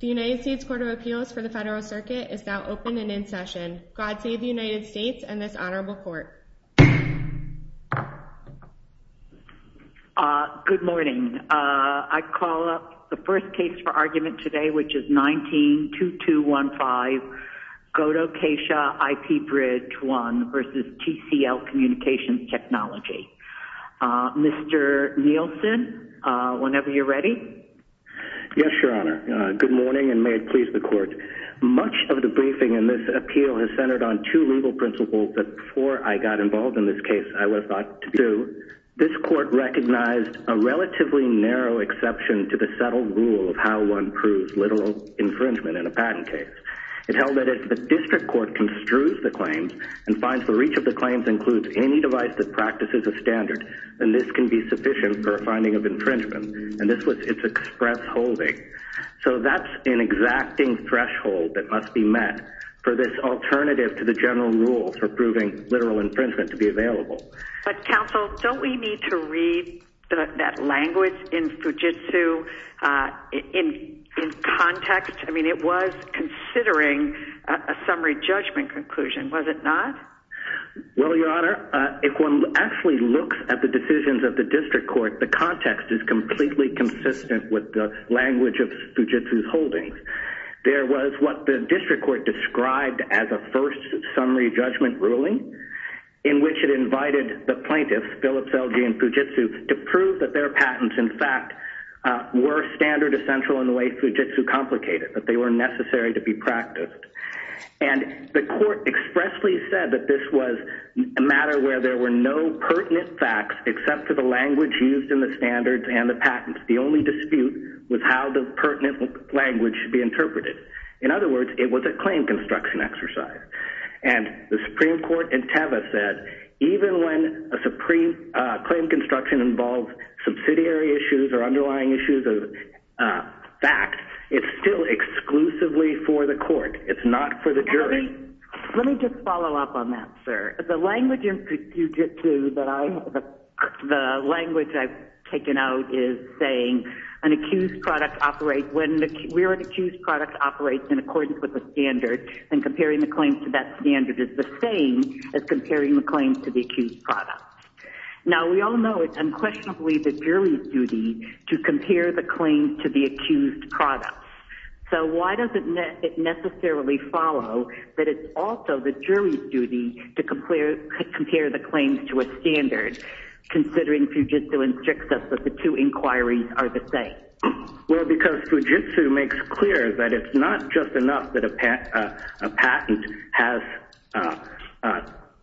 The United States Court of Appeals for the Federal Circuit is now open and in session. God save the United States and this Honorable Court. Good morning. I call up the first case for argument today, which is 19-2215 Kodo Kaisha IP Bridge 1 v. TCL Communications Technology. Mr. Nielsen, whenever you're ready. Yes, Your Honor. Good morning and may it please the Court. Much of the briefing in this appeal has centered on two legal principles that, before I got involved in this case, I would have thought to be true. This Court recognized a relatively narrow exception to the settled rule of how one proves literal infringement in a patent case. It held that if the District Court construes the claims and finds the reach of the claims includes any device that practices a standard, then this can be sufficient for a finding of infringement. And this was its express holding. So that's an exacting threshold that must be met for this alternative to the general rule for proving literal infringement to be available. But, Counsel, don't we need to read that language in Fujitsu in context? I mean, it was considering a summary judgment conclusion, was it not? Well, Your Honor, if one actually looks at the decisions of the District Court, the context is completely consistent with the language of Fujitsu's holdings. There was what the District Court described as a first summary judgment ruling in which it invited the plaintiffs, Phillips, Elge, and Fujitsu, to prove that their patents, in fact, were standard essential in the way Fujitsu complicated, that they were necessary to be practiced. And the Court expressly said that this was a matter where there were no pertinent facts except for the language used in the standards and the patents. The only dispute was how the pertinent language should be interpreted. In other words, it was a claim construction exercise. And the Supreme Court in Teva said, even when a claim construction involves subsidiary issues or underlying issues of fact, it's still exclusively for the Court. It's not for the jury. Let me just follow up on that, sir. The language in Fujitsu that I have, the language I've taken out is saying an accused product operates when, where an accused product operates in accordance with a standard, and comparing the claims to that standard is the same as comparing the claims to the accused product. Now, we all know it's unquestionably the jury's duty to compare the claim to the accused product. So why does it necessarily follow that it's also the jury's duty to compare the claims to a standard, considering Fujitsu instructs us that the two inquiries are the same? Well, because Fujitsu makes clear that it's not just enough that a patent has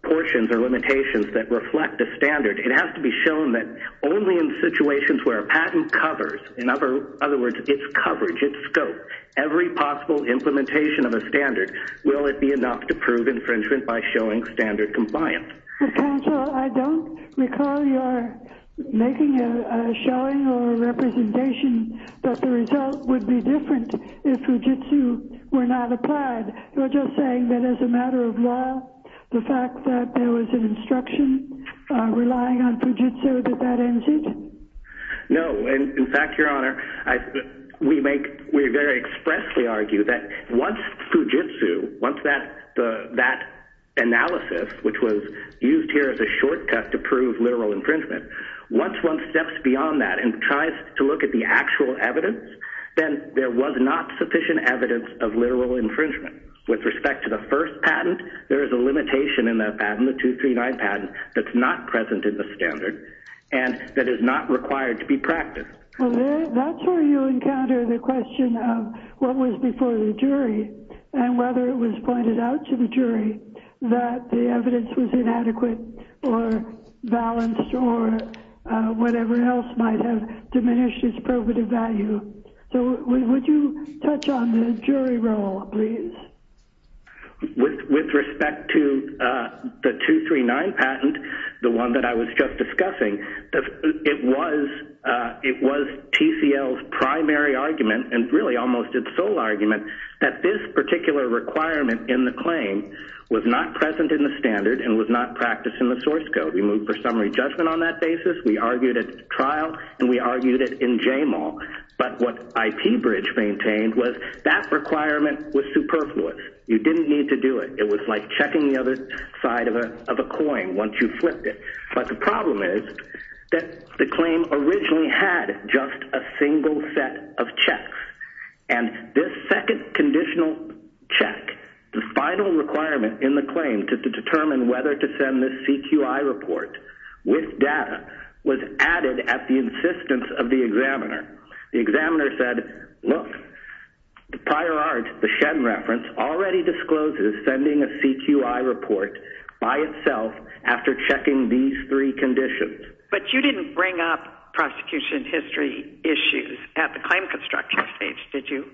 portions or limitations that reflect a standard. It has to be shown that only in situations where a patent covers, in other words, its coverage, its scope, every possible implementation of a standard, will it be enough to prove infringement by showing standard compliance? Counsel, I don't recall your making a showing or a representation that the result would be different if Fujitsu were not applied. You're just saying that as a matter of law, the fact that there was an instruction relying on Fujitsu, that that ends it? No. In fact, Your Honor, we very expressly argue that once Fujitsu, once that analysis, which was used here as a shortcut to prove literal infringement, once one steps beyond that and tries to look at the actual evidence, then there was not sufficient evidence of literal infringement. With respect to the first patent, there is a limitation in that Well, that's where you encounter the question of what was before the jury and whether it was pointed out to the jury that the evidence was inadequate or balanced or whatever else might have diminished its probative value. So would you touch on the jury role, please? With respect to the 239 patent, the one that I was just discussing, it was TCL's primary argument and really almost its sole argument that this particular requirement in the claim was not present in the standard and was not practiced in the source code. We moved for summary judgment on that basis, we argued at trial, and we argued it in JMAL. But what you didn't need to do it. It was like checking the other side of a coin once you flipped it. But the problem is that the claim originally had just a single set of checks. And this second conditional check, the final requirement in the claim to determine whether to send this CQI report with data was added at the insistence of the examiner. The examiner said, look, the prior art, the Shen reference, already discloses sending a CQI report by itself after checking these three conditions. But you didn't bring up prosecution history issues at the claim construction stage, did you?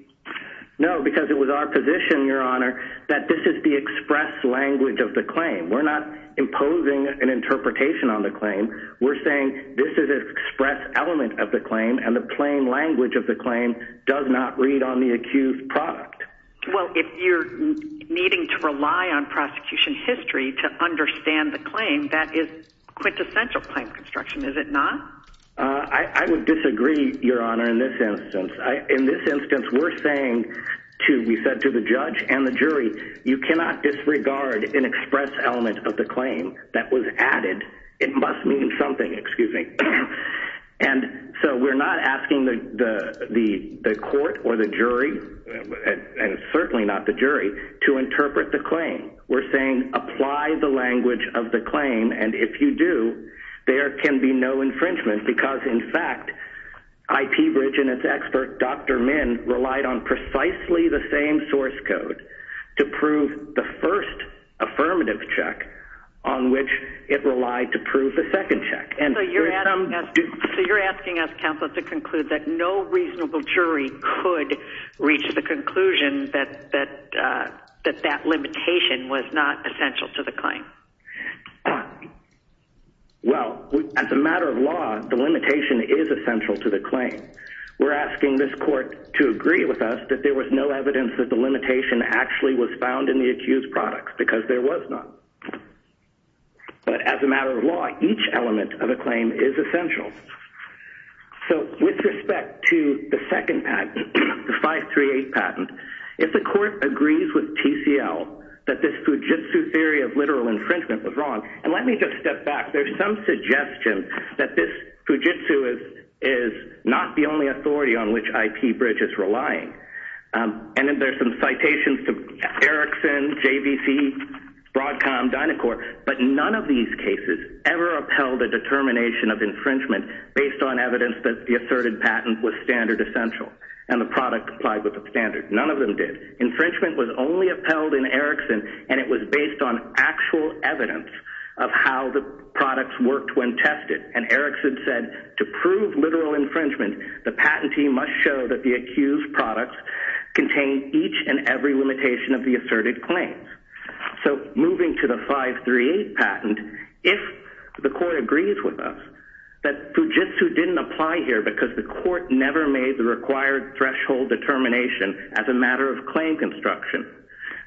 No, because it was our position, Your Honor, that this is the express language of the claim. We're not imposing an interpretation on the claim. We're saying this is an express element of the claim and the plain language of the claim does not read on the accused product. Well, if you're needing to rely on prosecution history to understand the claim, that is quintessential claim construction, is it not? I would disagree, Your Honor, in this instance. In this instance, we're saying to, we said to the judge and the jury, you cannot disregard an express element of the court or the jury, and certainly not the jury, to interpret the claim. We're saying apply the language of the claim and if you do, there can be no infringement because, in fact, IP Bridge and its expert, Dr. Min, relied on precisely the same source code to prove the first affirmative check on which it relied to prove the second check. So you're asking us, counsel, to conclude that no reasonable jury could reach the conclusion that that limitation was not essential to the claim? Well, as a matter of law, the limitation is essential to the claim. We're asking this court to agree with us that there was no evidence that the limitation actually was found in the accused products because there was none. But as a matter of law, each element of a claim is essential. So with respect to the second patent, the 538 patent, if the court agrees with TCL that this Fujitsu theory of literal infringement was wrong, and let me just step back, there's some suggestion that this Fujitsu is not the only authority on which IP Bridge is relying. And then there's some citations to Erickson, JVC, Broadcom, Dynacor, but none of these cases ever upheld a determination of infringement based on evidence that the asserted patent was standard essential and the product complied with the standard. None of them did. Infringement was only upheld in Erickson and it was based on actual evidence of how the products worked when tested. And Erickson said to prove literal infringement, the patentee must show that the accused products contain each and every limitation of the asserted claims. So moving to the 538 patent, if the court agrees with us that Fujitsu didn't apply here because the court never made the required threshold determination as a matter of claim construction,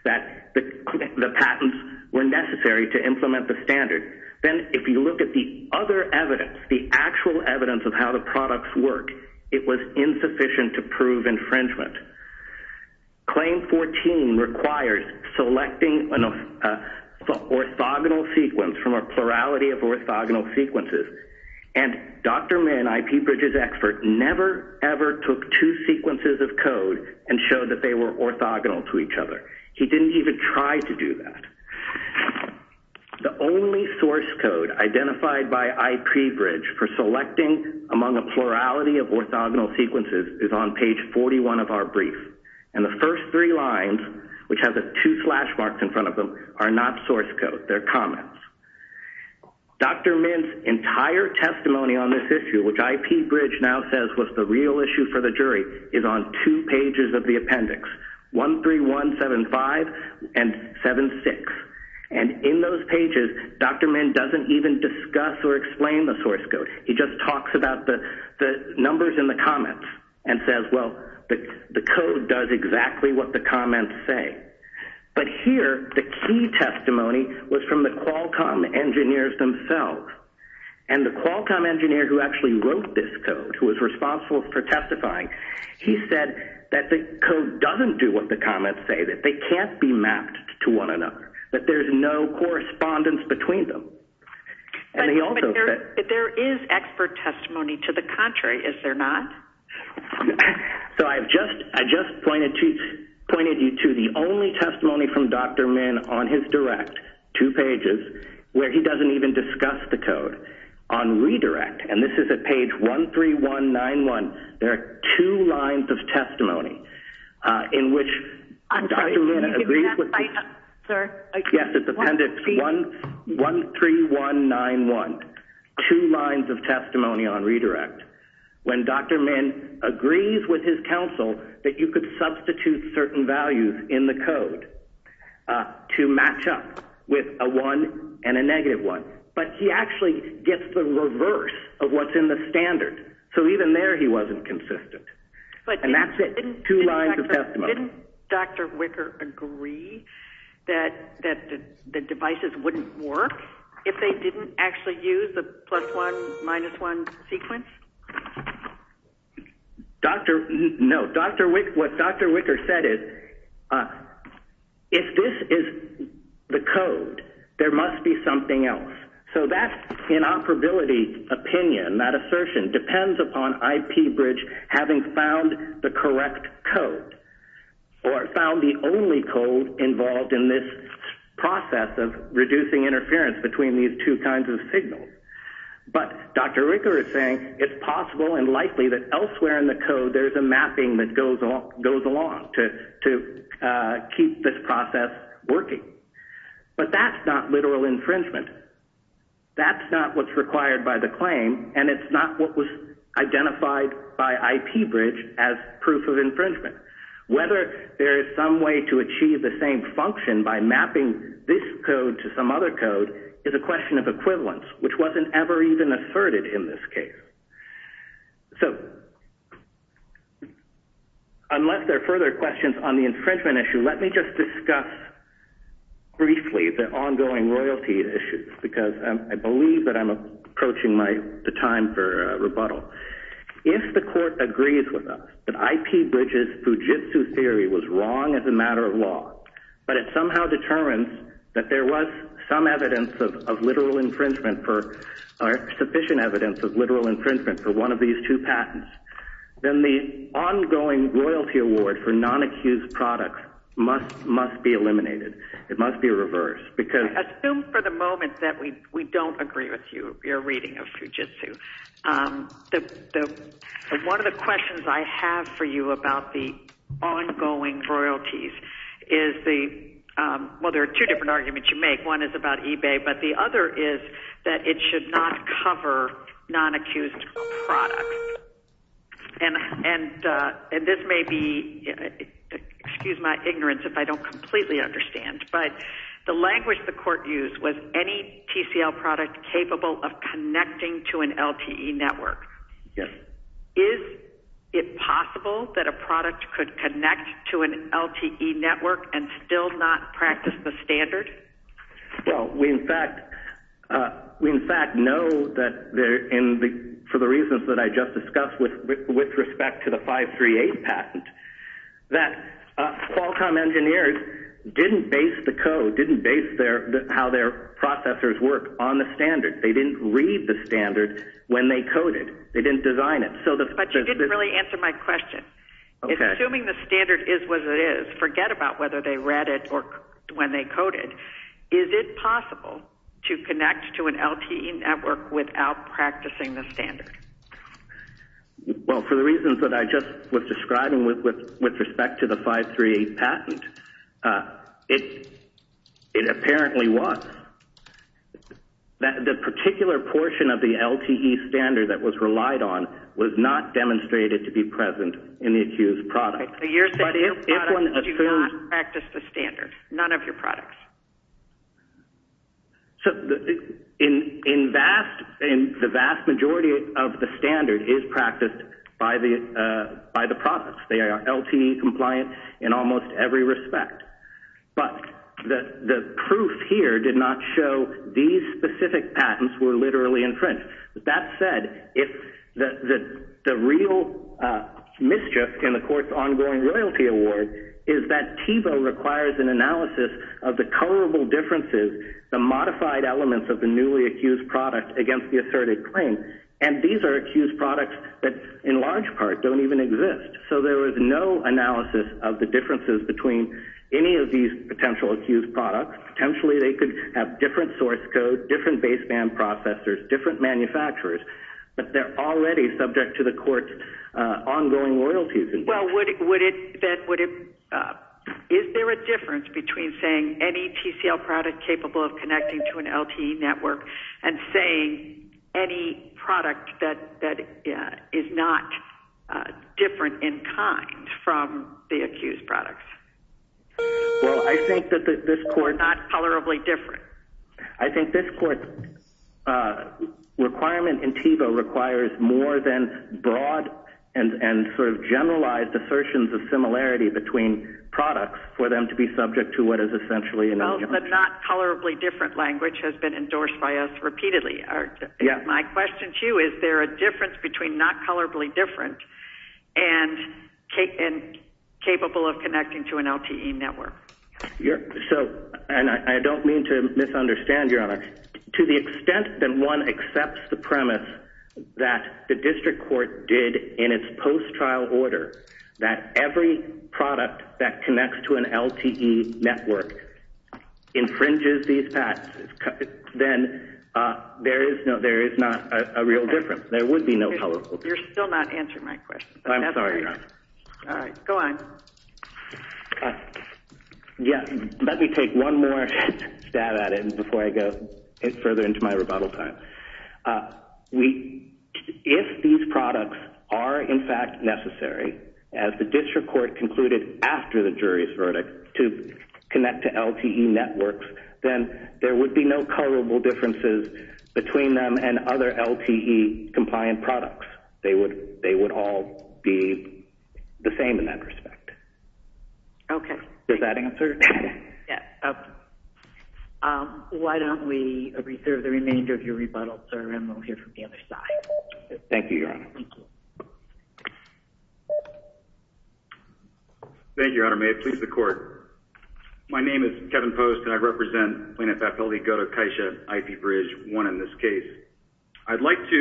that the patents were necessary to implement the standard, then if you look at the other evidence, the actual infringement. Claim 14 requires selecting an orthogonal sequence from a plurality of orthogonal sequences. And Dr. Min, IP Bridge's expert, never, ever took two sequences of code and showed that they were orthogonal to each other. He didn't even try to do that. The only source code identified by IP Bridge for selecting among a plurality of orthogonal sequences is on page 41 of our brief. And the first three lines, which have the two slash marks in front of them, are not source code. They're comments. Dr. Min's entire testimony on this issue, which IP Bridge now says was the real issue for the jury, is on two pages of the appendix, 13175 and 76. And in those pages, Dr. Min doesn't even discuss or explain the source code. He just talks about the numbers in the comments and says, well, the code does exactly what the comments say. But here, the key testimony was from the Qualcomm engineers themselves. And the Qualcomm engineer who actually wrote this code, who was responsible for testifying, he said that the code doesn't do what the comments say, that they can't be mapped to one another, that there's no correspondence between them. But there is expert testimony to the contrary, is there not? So I've just pointed you to the only testimony from Dr. Min on his direct, two pages, where he doesn't even discuss the code. On redirect, and this is at page 13191, there are two lines of testimony in which Dr. Min agrees with this. Yes, it's appendix 13191, two lines of testimony on redirect. When Dr. Min agrees with his counsel that you could substitute certain values in the code to match up with a 1 and a negative 1. But he actually gets the reverse of what's in the standard. So even there he wasn't consistent. And that's it. Two lines of testimony. Didn't Dr. Wicker agree that the devices wouldn't work if they didn't actually use the plus 1, minus 1 sequence? No. What Dr. Wicker said is, if this is the code, there must be something else. So that's an operability opinion, that assertion depends upon IP Bridge having found the correct code. Or found the only code involved in this process of reducing interference between these two kinds of signals. But Dr. Wicker is saying it's possible and likely that elsewhere in the code there's a mapping that goes along to keep this process working. But that's not literal infringement. That's not what's required by the claim and it's not what was identified by IP Bridge as proof of infringement. Whether there is some way to achieve the same function by mapping this code to some other code is a question of equivalence, which wasn't ever even asserted in this case. So unless there are further questions on the infringement issue, let me just discuss briefly the ongoing royalty issue, because I believe that I'm approaching the time for rebuttal. If the court agrees with us that IP Bridge's Fujitsu theory was wrong as a matter of law, but it somehow determines that there was sufficient evidence of literal infringement for one of these two patents, then the ongoing royalty award for non-accused products must be eliminated. It must be reversed. Assume for the moment that we don't agree with you, your reading of Fujitsu. One of the questions I have for you about the ongoing royalties is the – well, there are two different arguments you make. One is about eBay, but the other is that it should not cover non-accused products. And this may be – excuse my ignorance if I don't completely understand, but the language the court used was any TCL product capable of connecting to an LTE network. Yes. Is it possible that a product could connect to an LTE network and still not practice the standard? Well, we in fact know that for the reasons that I just discussed with respect to the 538 patent, that Qualcomm engineers didn't base the code, didn't base how their processors work on the standard. They didn't read the standard when they coded. They didn't design it. But you didn't really answer my question. Okay. Assuming the standard is what it is, forget about whether they read it or when they coded, is it possible to connect to an LTE network without practicing the standard? Well, for the reasons that I just was describing with respect to the 538 patent, it apparently was. The particular portion of the LTE standard that was relied on was not demonstrated to be present in the accused product. Okay. So you're saying your products do not practice the standard, none of your products? So the vast majority of the standard is practiced by the products. They are LTE compliant in almost every respect. But the proof here did not show these specific patents were literally infringed. That said, the real mischief in the court's ongoing royalty award is that TIVO requires an analysis of the colorable differences, the modified elements of the newly accused product against the asserted claim. And these are accused products that in large part don't even exist. So there is no analysis of the differences between any of these potential accused products. Potentially they could have different source code, different baseband processors, different manufacturers, but they're already subject to the court's ongoing royalties. Well, is there a difference between saying any TCL product capable of connecting to an LTE network and saying any product that is not different in kind from the accused products? Well, I think that this court... Not colorably different. I think this court's requirement in TIVO requires more than broad and sort of generalized assertions of similarity between products for them to be subject to what is essentially... Well, the not colorably different language has been endorsed by us repeatedly. Yeah. My question to you is there a difference between not colorably different and capable of connecting to an LTE network? So, and I don't mean to misunderstand, Your Honor. To the extent that one accepts the premise that the district court did in its post-trial order that every product that connects to an LTE network infringes these patents, then there is not a real difference. There would be no colorable difference. You're still not answering my question. I'm sorry, Your Honor. All right. Go on. Yeah. Let me take one more stab at it before I go further into my rebuttal time. If these products are in fact necessary, as the district court concluded after the jury's between them and other LTE compliant products, they would all be the same in that respect. Okay. Does that answer? Yeah. Why don't we reserve the remainder of your rebuttal, sir, and we'll hear from the other side. Thank you, Your Honor. Thank you. Thank you, Your Honor. May it please the court. My name is Kevin Post, and I represent Plaintiff F. L. E. Godo-Kaisha IP Bridge 1 in this case. I'd like to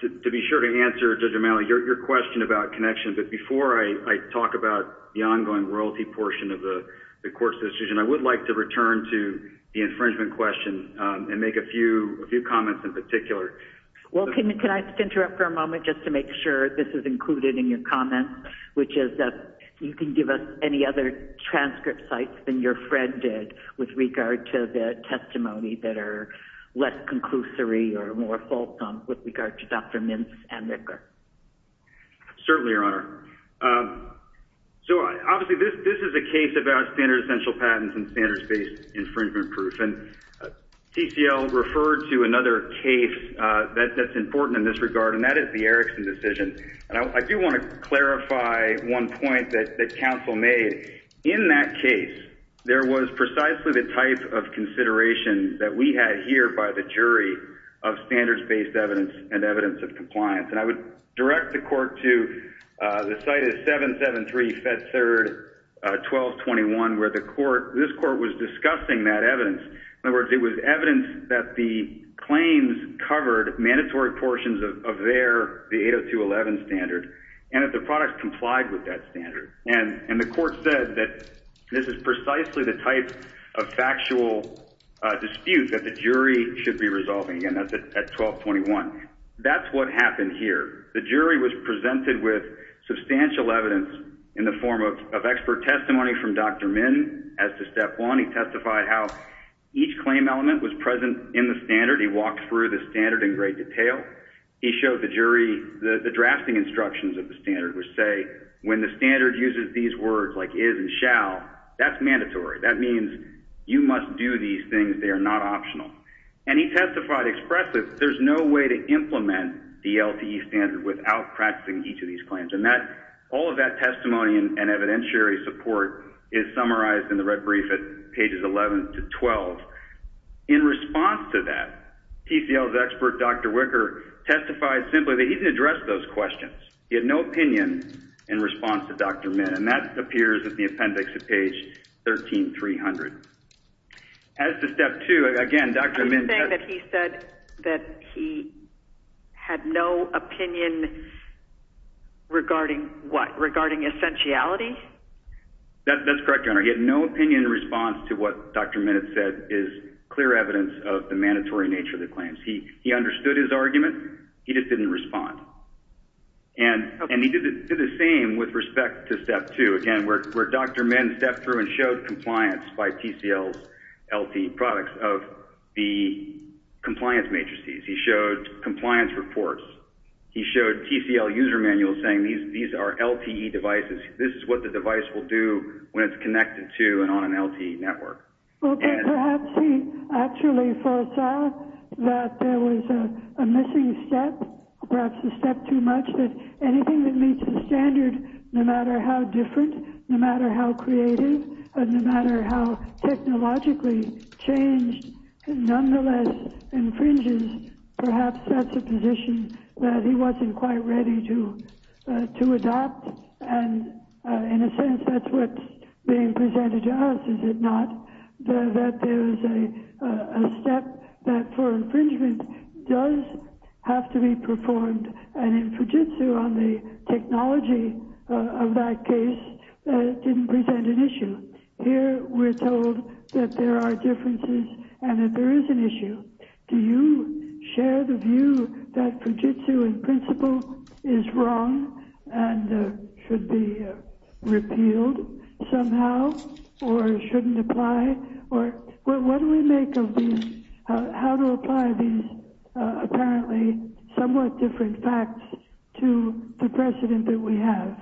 be sure to answer, Judge O'Malley, your question about connections, but before I talk about the ongoing royalty portion of the court's decision, I would like to return to the infringement question and make a few comments in particular. Well, can I interrupt for a moment just to make sure this is included in your comments, which is that you can give us any other transcript sites than your friend did with regard to the testimony that are less conclusory or more fulsome with regard to Dr. Mintz and Ricker. Certainly, Your Honor. So, obviously, this is a case about standard essential patents and standards-based infringement proof, and TCL referred to another case that's important in this regard, and that is the Erickson decision. And I do want to clarify one point that counsel made. In that case, there was precisely the type of consideration that we had here by the jury of standards-based evidence and evidence of compliance, and I would direct the court to the site of 773 Fed Third 1221, where this court was discussing that evidence. In other words, it was evidence that the claims covered mandatory portions of their 802.11 standard, and that the product complied with that standard. And the court said that this is precisely the type of factual dispute that the jury should be resolving, again, at 1221. That's what happened here. The jury was presented with substantial evidence in the form of expert testimony from Dr. Mintz as to step one. He testified how each claim element was present in the standard. He walked through the standard in great detail. He showed the jury the drafting instructions of the standard, which say, when the standard uses these words, like is and shall, that's mandatory. That means you must do these things. They are not optional. And he testified expressly that there's no way to implement the LTE standard without practicing each of these claims. And all of that testimony and evidentiary support is summarized in the red brief at pages 11 to 12. In response to that, TCL's expert, Dr. Wicker, testified simply that he didn't address those questions. He had no opinion in response to Dr. Mintz. And that appears at the appendix at page 13300. As to step two, again, Dr. Mintz testified... Regarding what? Regarding essentiality? That's correct, Your Honor. He had no opinion in response to what Dr. Mintz said is clear evidence of the mandatory nature of the claims. He understood his argument. He just didn't respond. And he did the same with respect to step two. Again, where Dr. Mintz stepped through and showed compliance by TCL's LTE products of the compliance matrices. He showed compliance reports. He showed TCL user manuals saying these are LTE devices. This is what the device will do when it's connected to and on an LTE network. And perhaps he actually foresaw that there was a missing step, perhaps a step too much, that anything that meets the standard, no matter how different, no matter how creative, no matter how technologically changed, nonetheless infringes, perhaps that's a position that he wasn't quite ready to adopt. And in a sense, that's what's being presented to us, is it not? That there's a step that for infringement does have to be performed. And in Fujitsu, on the technology of that case, it didn't present an issue. Here we're told that there are differences and that there is an issue. Do you share the view that Fujitsu in principle is wrong and should be repealed somehow or shouldn't apply? Or what do we make of these, how to apply these apparently somewhat different facts to the precedent that we have?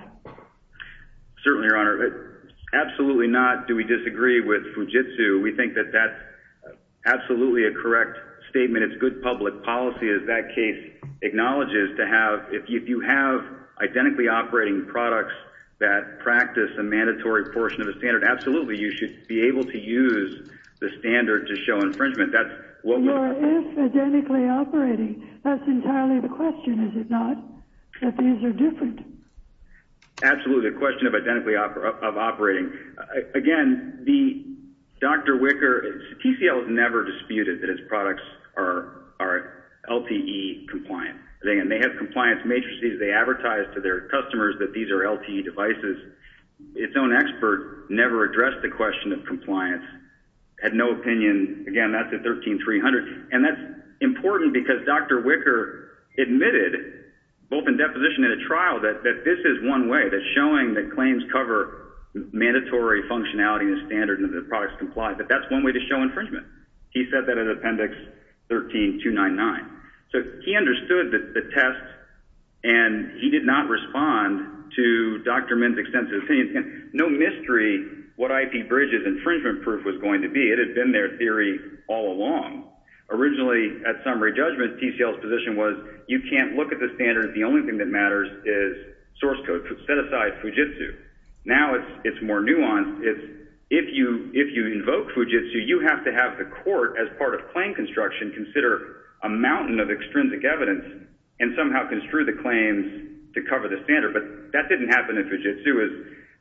Certainly, Your Honor. Absolutely not do we disagree with Fujitsu. We think that that's absolutely a correct statement. It's good public policy, as that case acknowledges, to have, if you have identically operating products that practice a mandatory portion of the standard, absolutely you should be able to use the standard to show infringement. Or if identically operating, that's entirely the question, is it not? That these are different. Absolutely, the question of identically operating. Again, Dr. Wicker, TCL has never disputed that its products are LTE compliant. They have compliance matrices they advertise to their customers that these are LTE devices. Its own expert never addressed the question of compliance, had no opinion. Again, that's at 13-300. And that's important because Dr. Wicker admitted, both in deposition and at trial, that this is one way, that showing that claims cover mandatory functionality in the standard and that the products comply. But that's one way to show infringement. He said that at Appendix 13-299. So he understood the test and he did not respond to Dr. Min's extensive opinion. No mystery what IP Bridges' infringement proof was going to be. It had been their theory all along. Originally, at summary judgment, TCL's position was, you can't look at the standard. The only thing that matters is source code. Set aside Fujitsu. Now it's more nuanced. If you invoke Fujitsu, you have to have the court, as part of claim construction, consider a mountain of extrinsic evidence and somehow construe the claims to cover the standard. But that didn't happen in Fujitsu.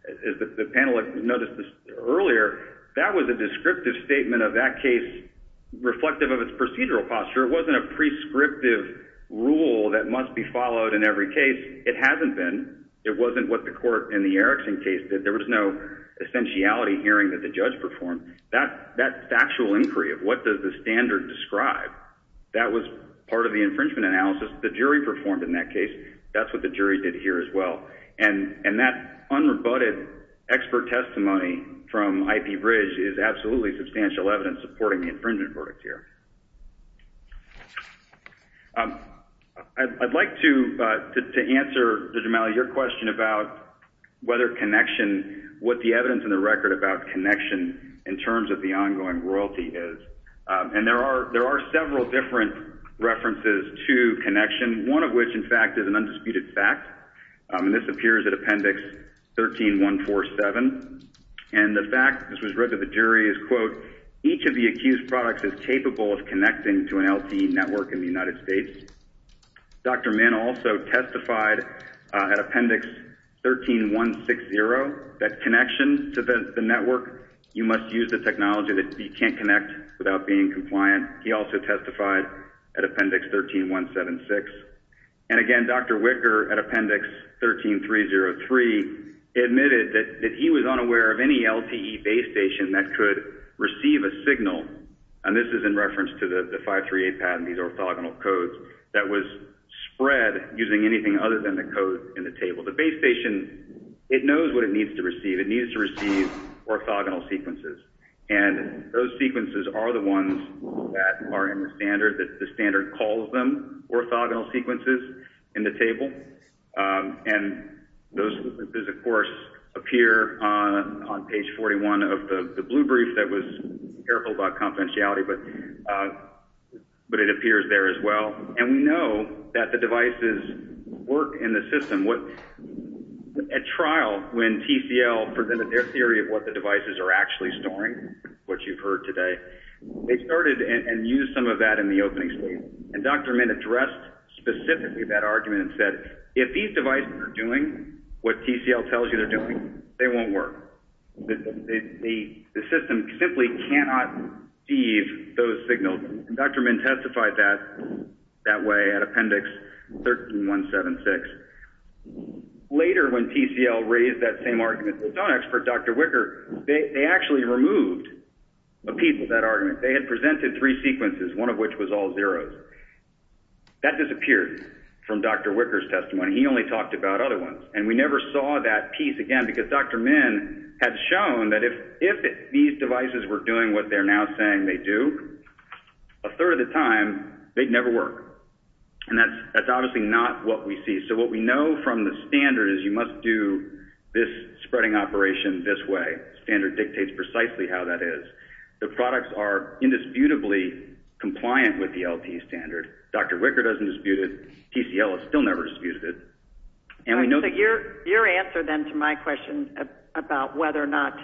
As the panel noticed earlier, that was a descriptive statement of that case, reflective of its procedural posture. It wasn't a prescriptive rule that must be followed in every case. It hasn't been. It wasn't what the court in the Erickson case did. There was no essentiality hearing that the judge performed. That factual inquiry of what does the standard describe, that was part of the infringement analysis. The jury performed in that case. That's what the jury did here as well. And that unrebutted expert testimony from IP Bridge is absolutely substantial evidence supporting the infringement verdict here. I'd like to answer, Judge O'Malley, your question about whether connection, what the evidence in the record about connection in terms of the ongoing royalty is. And there are several different references to connection, one of which, in fact, is an undisputed fact. And this appears at Appendix 13147. And the fact, this was read to the jury, is, quote, each of the accused products is capable of connecting to an LTE network in the United States. Dr. Min also testified at Appendix 13160 that connection to the network, you must use the technology that you can't connect without being compliant. He also testified at Appendix 13176. And, again, Dr. Wicker at Appendix 13303 admitted that he was unaware of any LTE base station that could receive a signal. And this is in reference to the 538 patent, these orthogonal codes, that was spread using anything other than the code in the table. The base station, it knows what it needs to receive. It needs to receive orthogonal sequences. And those sequences are the ones that are in the standard, that the standard calls them orthogonal sequences in the table. And those sequences, of course, appear on page 41 of the blue brief that was careful about confidentiality, but it appears there as well. And we know that the devices work in the system. At trial, when TCL presented their theory of what the devices are actually storing, which you've heard today, they started and used some of that in the opening statement. And Dr. Min addressed specifically that argument and said, if these devices are doing what TCL tells you they're doing, they won't work. The system simply cannot receive those signals. And Dr. Min testified that way at Appendix 13176. Later, when TCL raised that same argument, its own expert, Dr. Wicker, they actually removed a piece of that argument. They had presented three sequences, one of which was all zeros. That disappeared from Dr. Wicker's testimony. He only talked about other ones. And we never saw that piece again because Dr. Min had shown that if these devices were doing what they're now saying they do, a third of the time, they'd never work. And that's obviously not what we see. So what we know from the standard is you must do this spreading operation this way. The standard dictates precisely how that is. The products are indisputably compliant with the LT standard. Dr. Wicker doesn't dispute it. TCL has still never disputed it. And we know that... So your answer then to my question about whether or not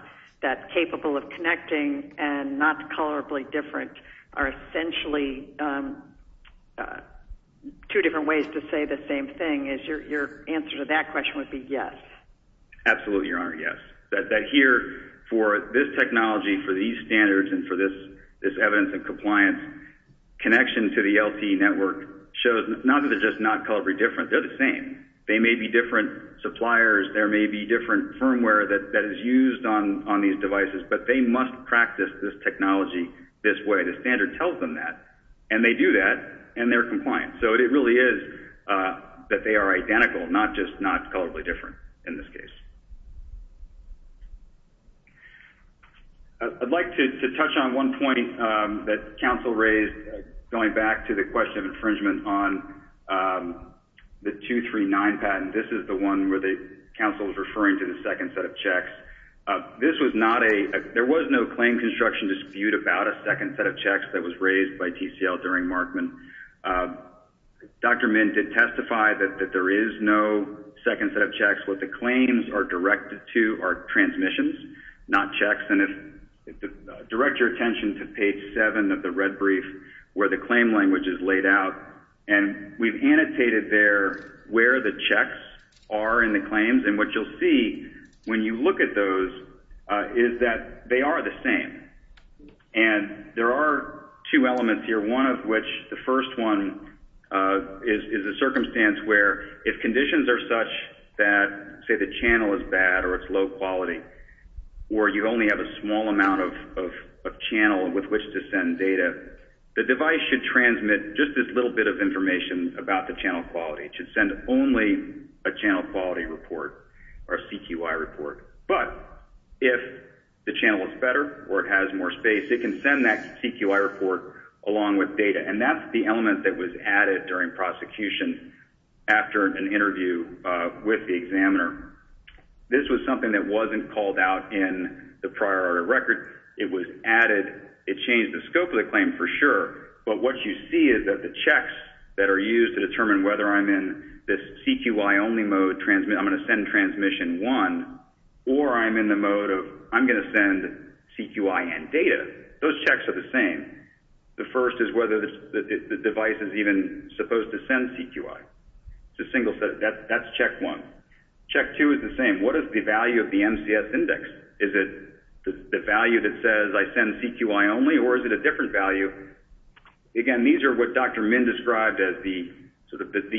that's capable of connecting and not colorably different are essentially two different ways to say the same thing is your answer to that question would be yes. Absolutely, Your Honor, yes. That here, for this technology, for these standards, and for this evidence and compliance, connection to the LT network shows not that they're just not colorably different. They're the same. They may be different suppliers. There may be different firmware that is used on these devices. But they must practice this technology this way. The standard tells them that. And they do that. And they're compliant. So it really is that they are identical, not just not colorably different in this case. I'd like to touch on one point that counsel raised going back to the question of infringement on the 239 patent. This is the one where the counsel was referring to the second set of checks. This was not a... There was no claim construction dispute about a second set of checks that was raised by Dr. Min did testify that there is no second set of checks. What the claims are directed to are transmissions, not checks. And direct your attention to page 7 of the red brief where the claim language is laid out. And we've annotated there where the checks are in the claims. And what you'll see when you look at those is that they are the same. And there are two elements here. One of which, the first one, is a circumstance where if conditions are such that, say, the channel is bad or it's low quality or you only have a small amount of channel with which to send data, the device should transmit just this little bit of information about the channel quality. It should send only a channel quality report or a CQI report. But if the channel is better or it has more space, it can send that CQI report along with data. And that's the element that was added during prosecution after an interview with the examiner. This was something that wasn't called out in the prior order of record. It was added. It changed the scope of the claim for sure. But what you see is that the checks that are used to determine whether I'm in this CQI-only mode, I'm going to send transmission one, or I'm in the mode of I'm going to send CQI and data. Those checks are the same. The first is whether the device is even supposed to send CQI. It's a single set. That's check one. Check two is the same. What is the value of the MCS index? Is it the value that says I send CQI only or is it a different value? Again, these are what Dr. Min described as the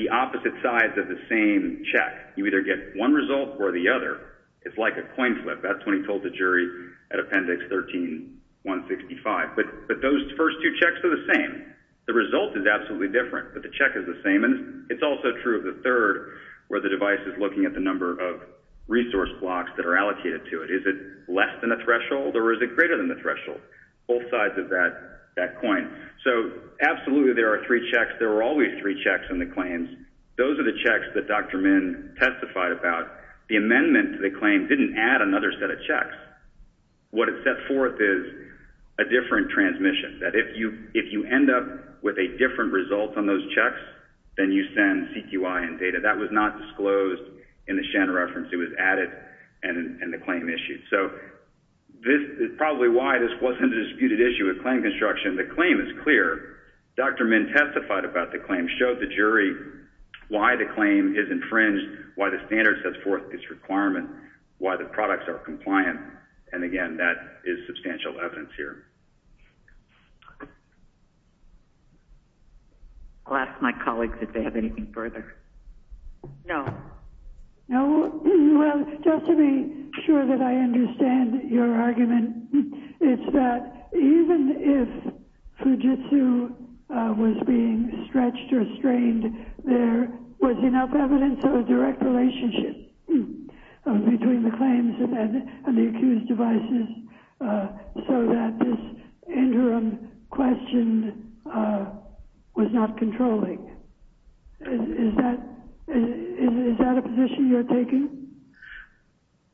opposite sides of the same check. You either get one result or the other. It's like a coin flip. That's when he told the jury at Appendix 13-165. But those first two checks are the same. The result is absolutely different, but the check is the same. And it's also true of the third where the device is looking at the number of resource blocks that are allocated to it. Is it less than the threshold or is it greater than the threshold? Both sides of that coin. So absolutely there are three checks. There were always three checks in the claims. Those are the checks that Dr. Min testified about. The amendment to the claim didn't add another set of checks. What it set forth is a different transmission. That if you end up with a different result on those checks, then you send CQI and data. That was not disclosed in the Shen reference. It was added and the claim issued. So this is probably why this wasn't a disputed issue with claim construction. The claim is clear. Dr. Min testified about the claim, showed the jury why the claim is infringed, why the standard sets forth this requirement, why the products are compliant. And, again, that is substantial evidence here. I'll ask my colleagues if they have anything further. No. Well, just to be sure that I understand your argument, it's that even if Fujitsu was being stretched or strained, there was enough evidence of a direct relationship between the claims and the accused devices so that this interim question was not controlling. Is that a position you're taking?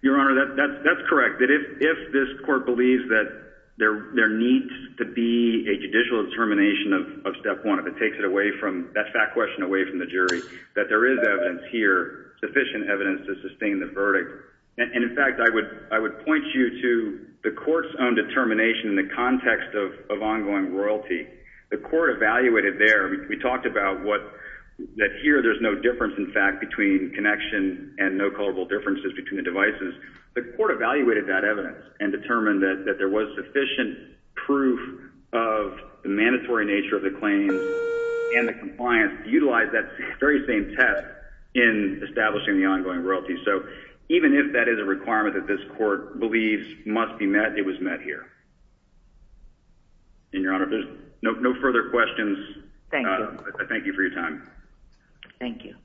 Your Honor, that's correct. If this court believes that there needs to be a judicial determination of Step 1, if it takes that question away from the jury, that there is evidence here, sufficient evidence to sustain the verdict. And, in fact, I would point you to the court's own determination in the context of ongoing royalty. The court evaluated there. We talked about that here there's no difference, in fact, between connection and no culpable differences between the devices. The court evaluated that evidence and determined that there was sufficient proof of the mandatory nature of the claims and the compliance to utilize that very same test in establishing the ongoing royalty. So even if that is a requirement that this court believes must be met, it was met here. And, Your Honor, if there's no further questions, I thank you for your time. Thank you.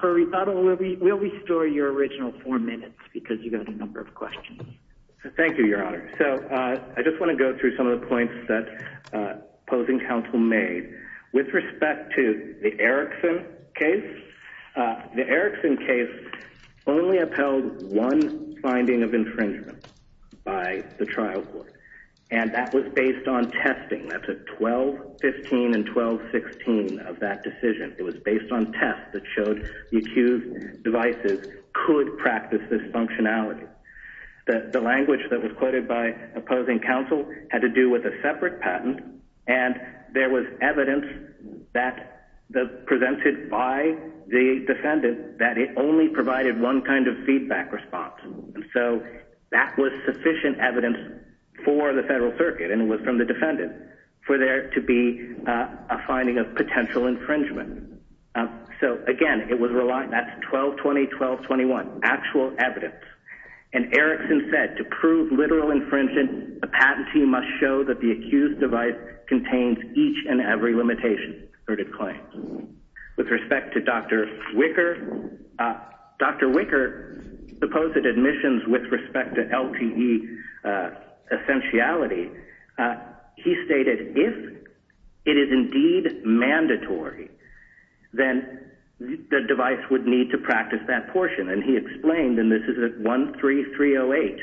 For rebuttal, we'll restore your original four minutes because you've got a number of questions. Thank you, Your Honor. So I just want to go through some of the points that opposing counsel made. With respect to the Erickson case, the Erickson case only upheld one finding of infringement by the trial court, and that was based on testing. That's a 12-15 and 12-16 of that decision. It was based on tests that showed the accused devices could practice this functionality. The language that was quoted by opposing counsel had to do with a separate patent, and there was evidence that presented by the defendant that it only provided one kind of feedback response. And so that was sufficient evidence for the federal circuit, and it was from the defendant, for there to be a finding of potential infringement. So, again, that's 12-20, 12-21, actual evidence. And Erickson said, to prove literal infringement, a patentee must show that the accused device contains each and every limitation or decline. With respect to Dr. Wicker, Dr. Wicker opposed admissions with respect to LTE essentiality. He stated, if it is indeed mandatory, then the device would need to practice that portion. And he explained, and this is at 13308,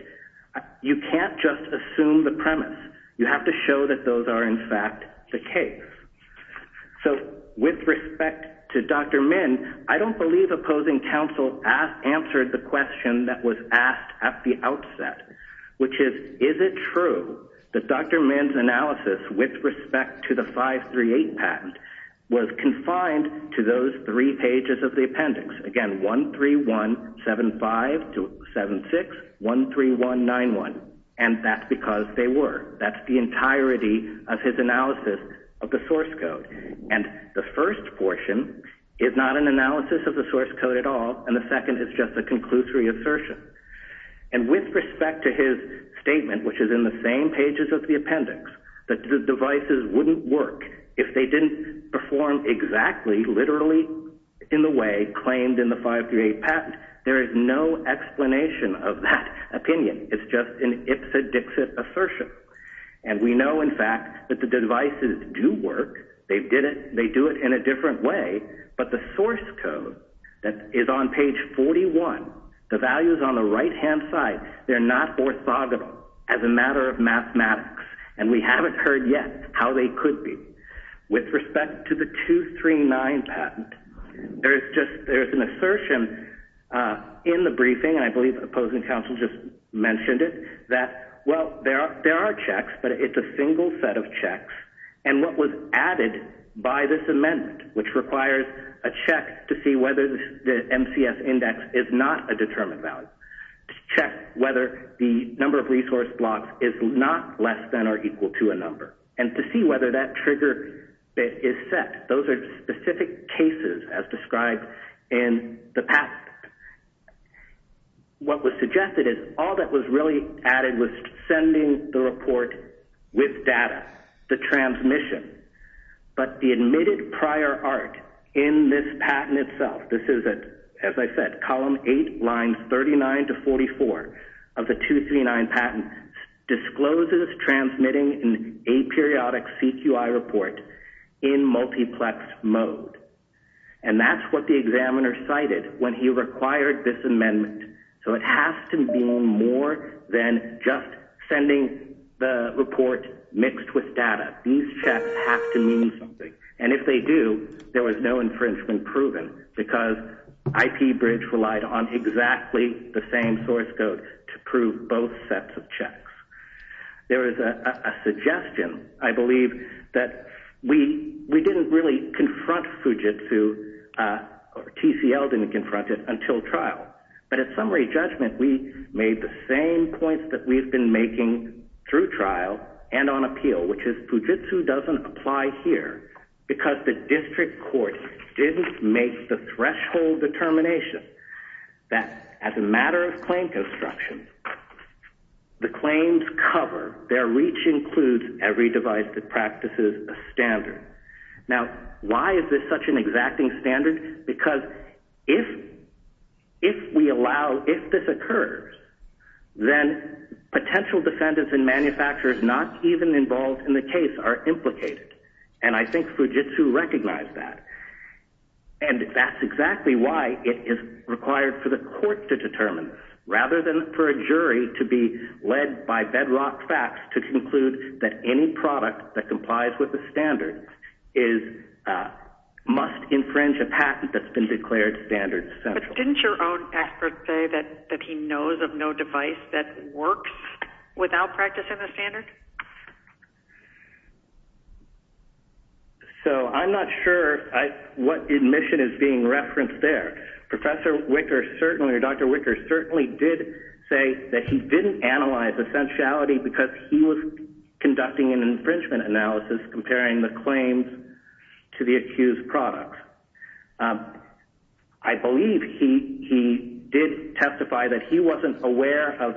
you can't just assume the premise. You have to show that those are, in fact, the case. So with respect to Dr. Min, I don't believe opposing counsel answered the question that was asked at the outset, which is, is it true that Dr. Min's analysis with respect to the 538 patent was confined to those three pages of the appendix? Again, 13175-76, 13191, and that's because they were. That's the entirety of his analysis of the source code. And the first portion is not an analysis of the source code at all, and the second is just a conclusory assertion. And with respect to his statement, which is in the same pages of the appendix, that the devices wouldn't work if they didn't perform exactly literally in the way claimed in the 538 patent, there is no explanation of that opinion. It's just an ipsa dixit assertion. And we know, in fact, that the devices do work. They did it. They do it in a different way. But the source code that is on page 41, the values on the right-hand side, they're not orthogonal as a matter of mathematics, and we haven't heard yet how they could be. With respect to the 239 patent, there's an assertion in the briefing, and I believe the opposing counsel just mentioned it, that, well, there are checks, but it's a single set of checks, and what was added by this amendment, which requires a check to see whether the MCS index is not a determined value, to check whether the number of resource blocks is not less than or equal to a number, and to see whether that trigger bit is set. Those are specific cases as described in the patent. What was suggested is all that was really added was sending the report with data, the transmission. But the admitted prior art in this patent itself, this is, as I said, column 8, lines 39 to 44 of the 239 patent discloses transmitting an aperiodic CQI report in multiplex mode, and that's what the examiner cited when he required this amendment. So it has to mean more than just sending the report mixed with data. These checks have to mean something, and if they do, there was no infringement proven because IP Bridge relied on exactly the same source code to prove both sets of checks. There is a suggestion, I believe, that we didn't really confront Fujitsu, or TCL didn't confront it until trial, but at summary judgment we made the same points that we've been making through trial and on appeal, which is Fujitsu doesn't apply here because the district court didn't make the threshold determination that as a matter of claim construction, the claims cover, their reach includes every device that practices a standard. Now, why is this such an exacting standard? Because if this occurs, then potential defendants and manufacturers not even involved in the case are implicated, and I think Fujitsu recognized that, and that's exactly why it is required for the court to determine this rather than for a jury to be led by bedrock facts to conclude that any product that complies with the standard must infringe a patent that's been declared standard essential. But didn't your own expert say that he knows of no device that works without practicing a standard? So I'm not sure what admission is being referenced there. Professor Wicker certainly, or Dr. Wicker certainly did say that he didn't analyze essentiality because he was conducting an infringement analysis comparing the claims to the accused product. I believe he did testify that he wasn't aware of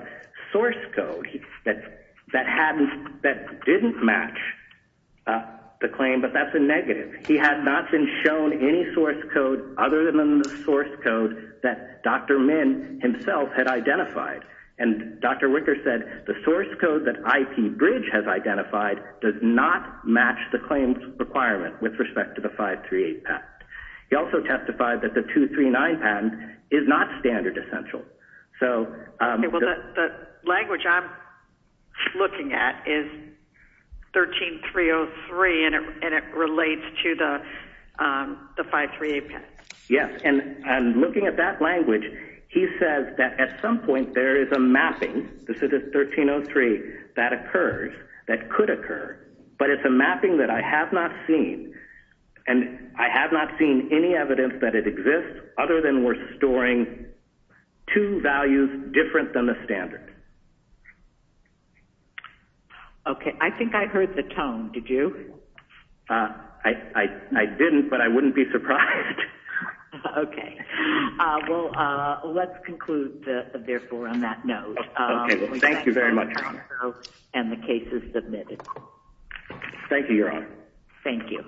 source code that didn't match the claim, but that's a negative. He had not been shown any source code other than the source code that Dr. Min himself had identified, and Dr. Wicker said the source code that IP Bridge has identified does not match the claims requirement with respect to the 538 patent. He also testified that the 239 patent is not standard essential. The language I'm looking at is 13303, and it relates to the 538 patent. Yes, and looking at that language, he says that at some point there is a mapping. This is a 1303 that occurs, that could occur, but it's a mapping that I have not seen, and I have not seen any evidence that it exists other than we're storing two values different than the standard. Okay. I think I heard the tone. Did you? I didn't, but I wouldn't be surprised. Okay. Well, let's conclude, therefore, on that note. Okay. Well, thank you very much, Your Honor. And the case is submitted. Thank you, Your Honor. Thank you.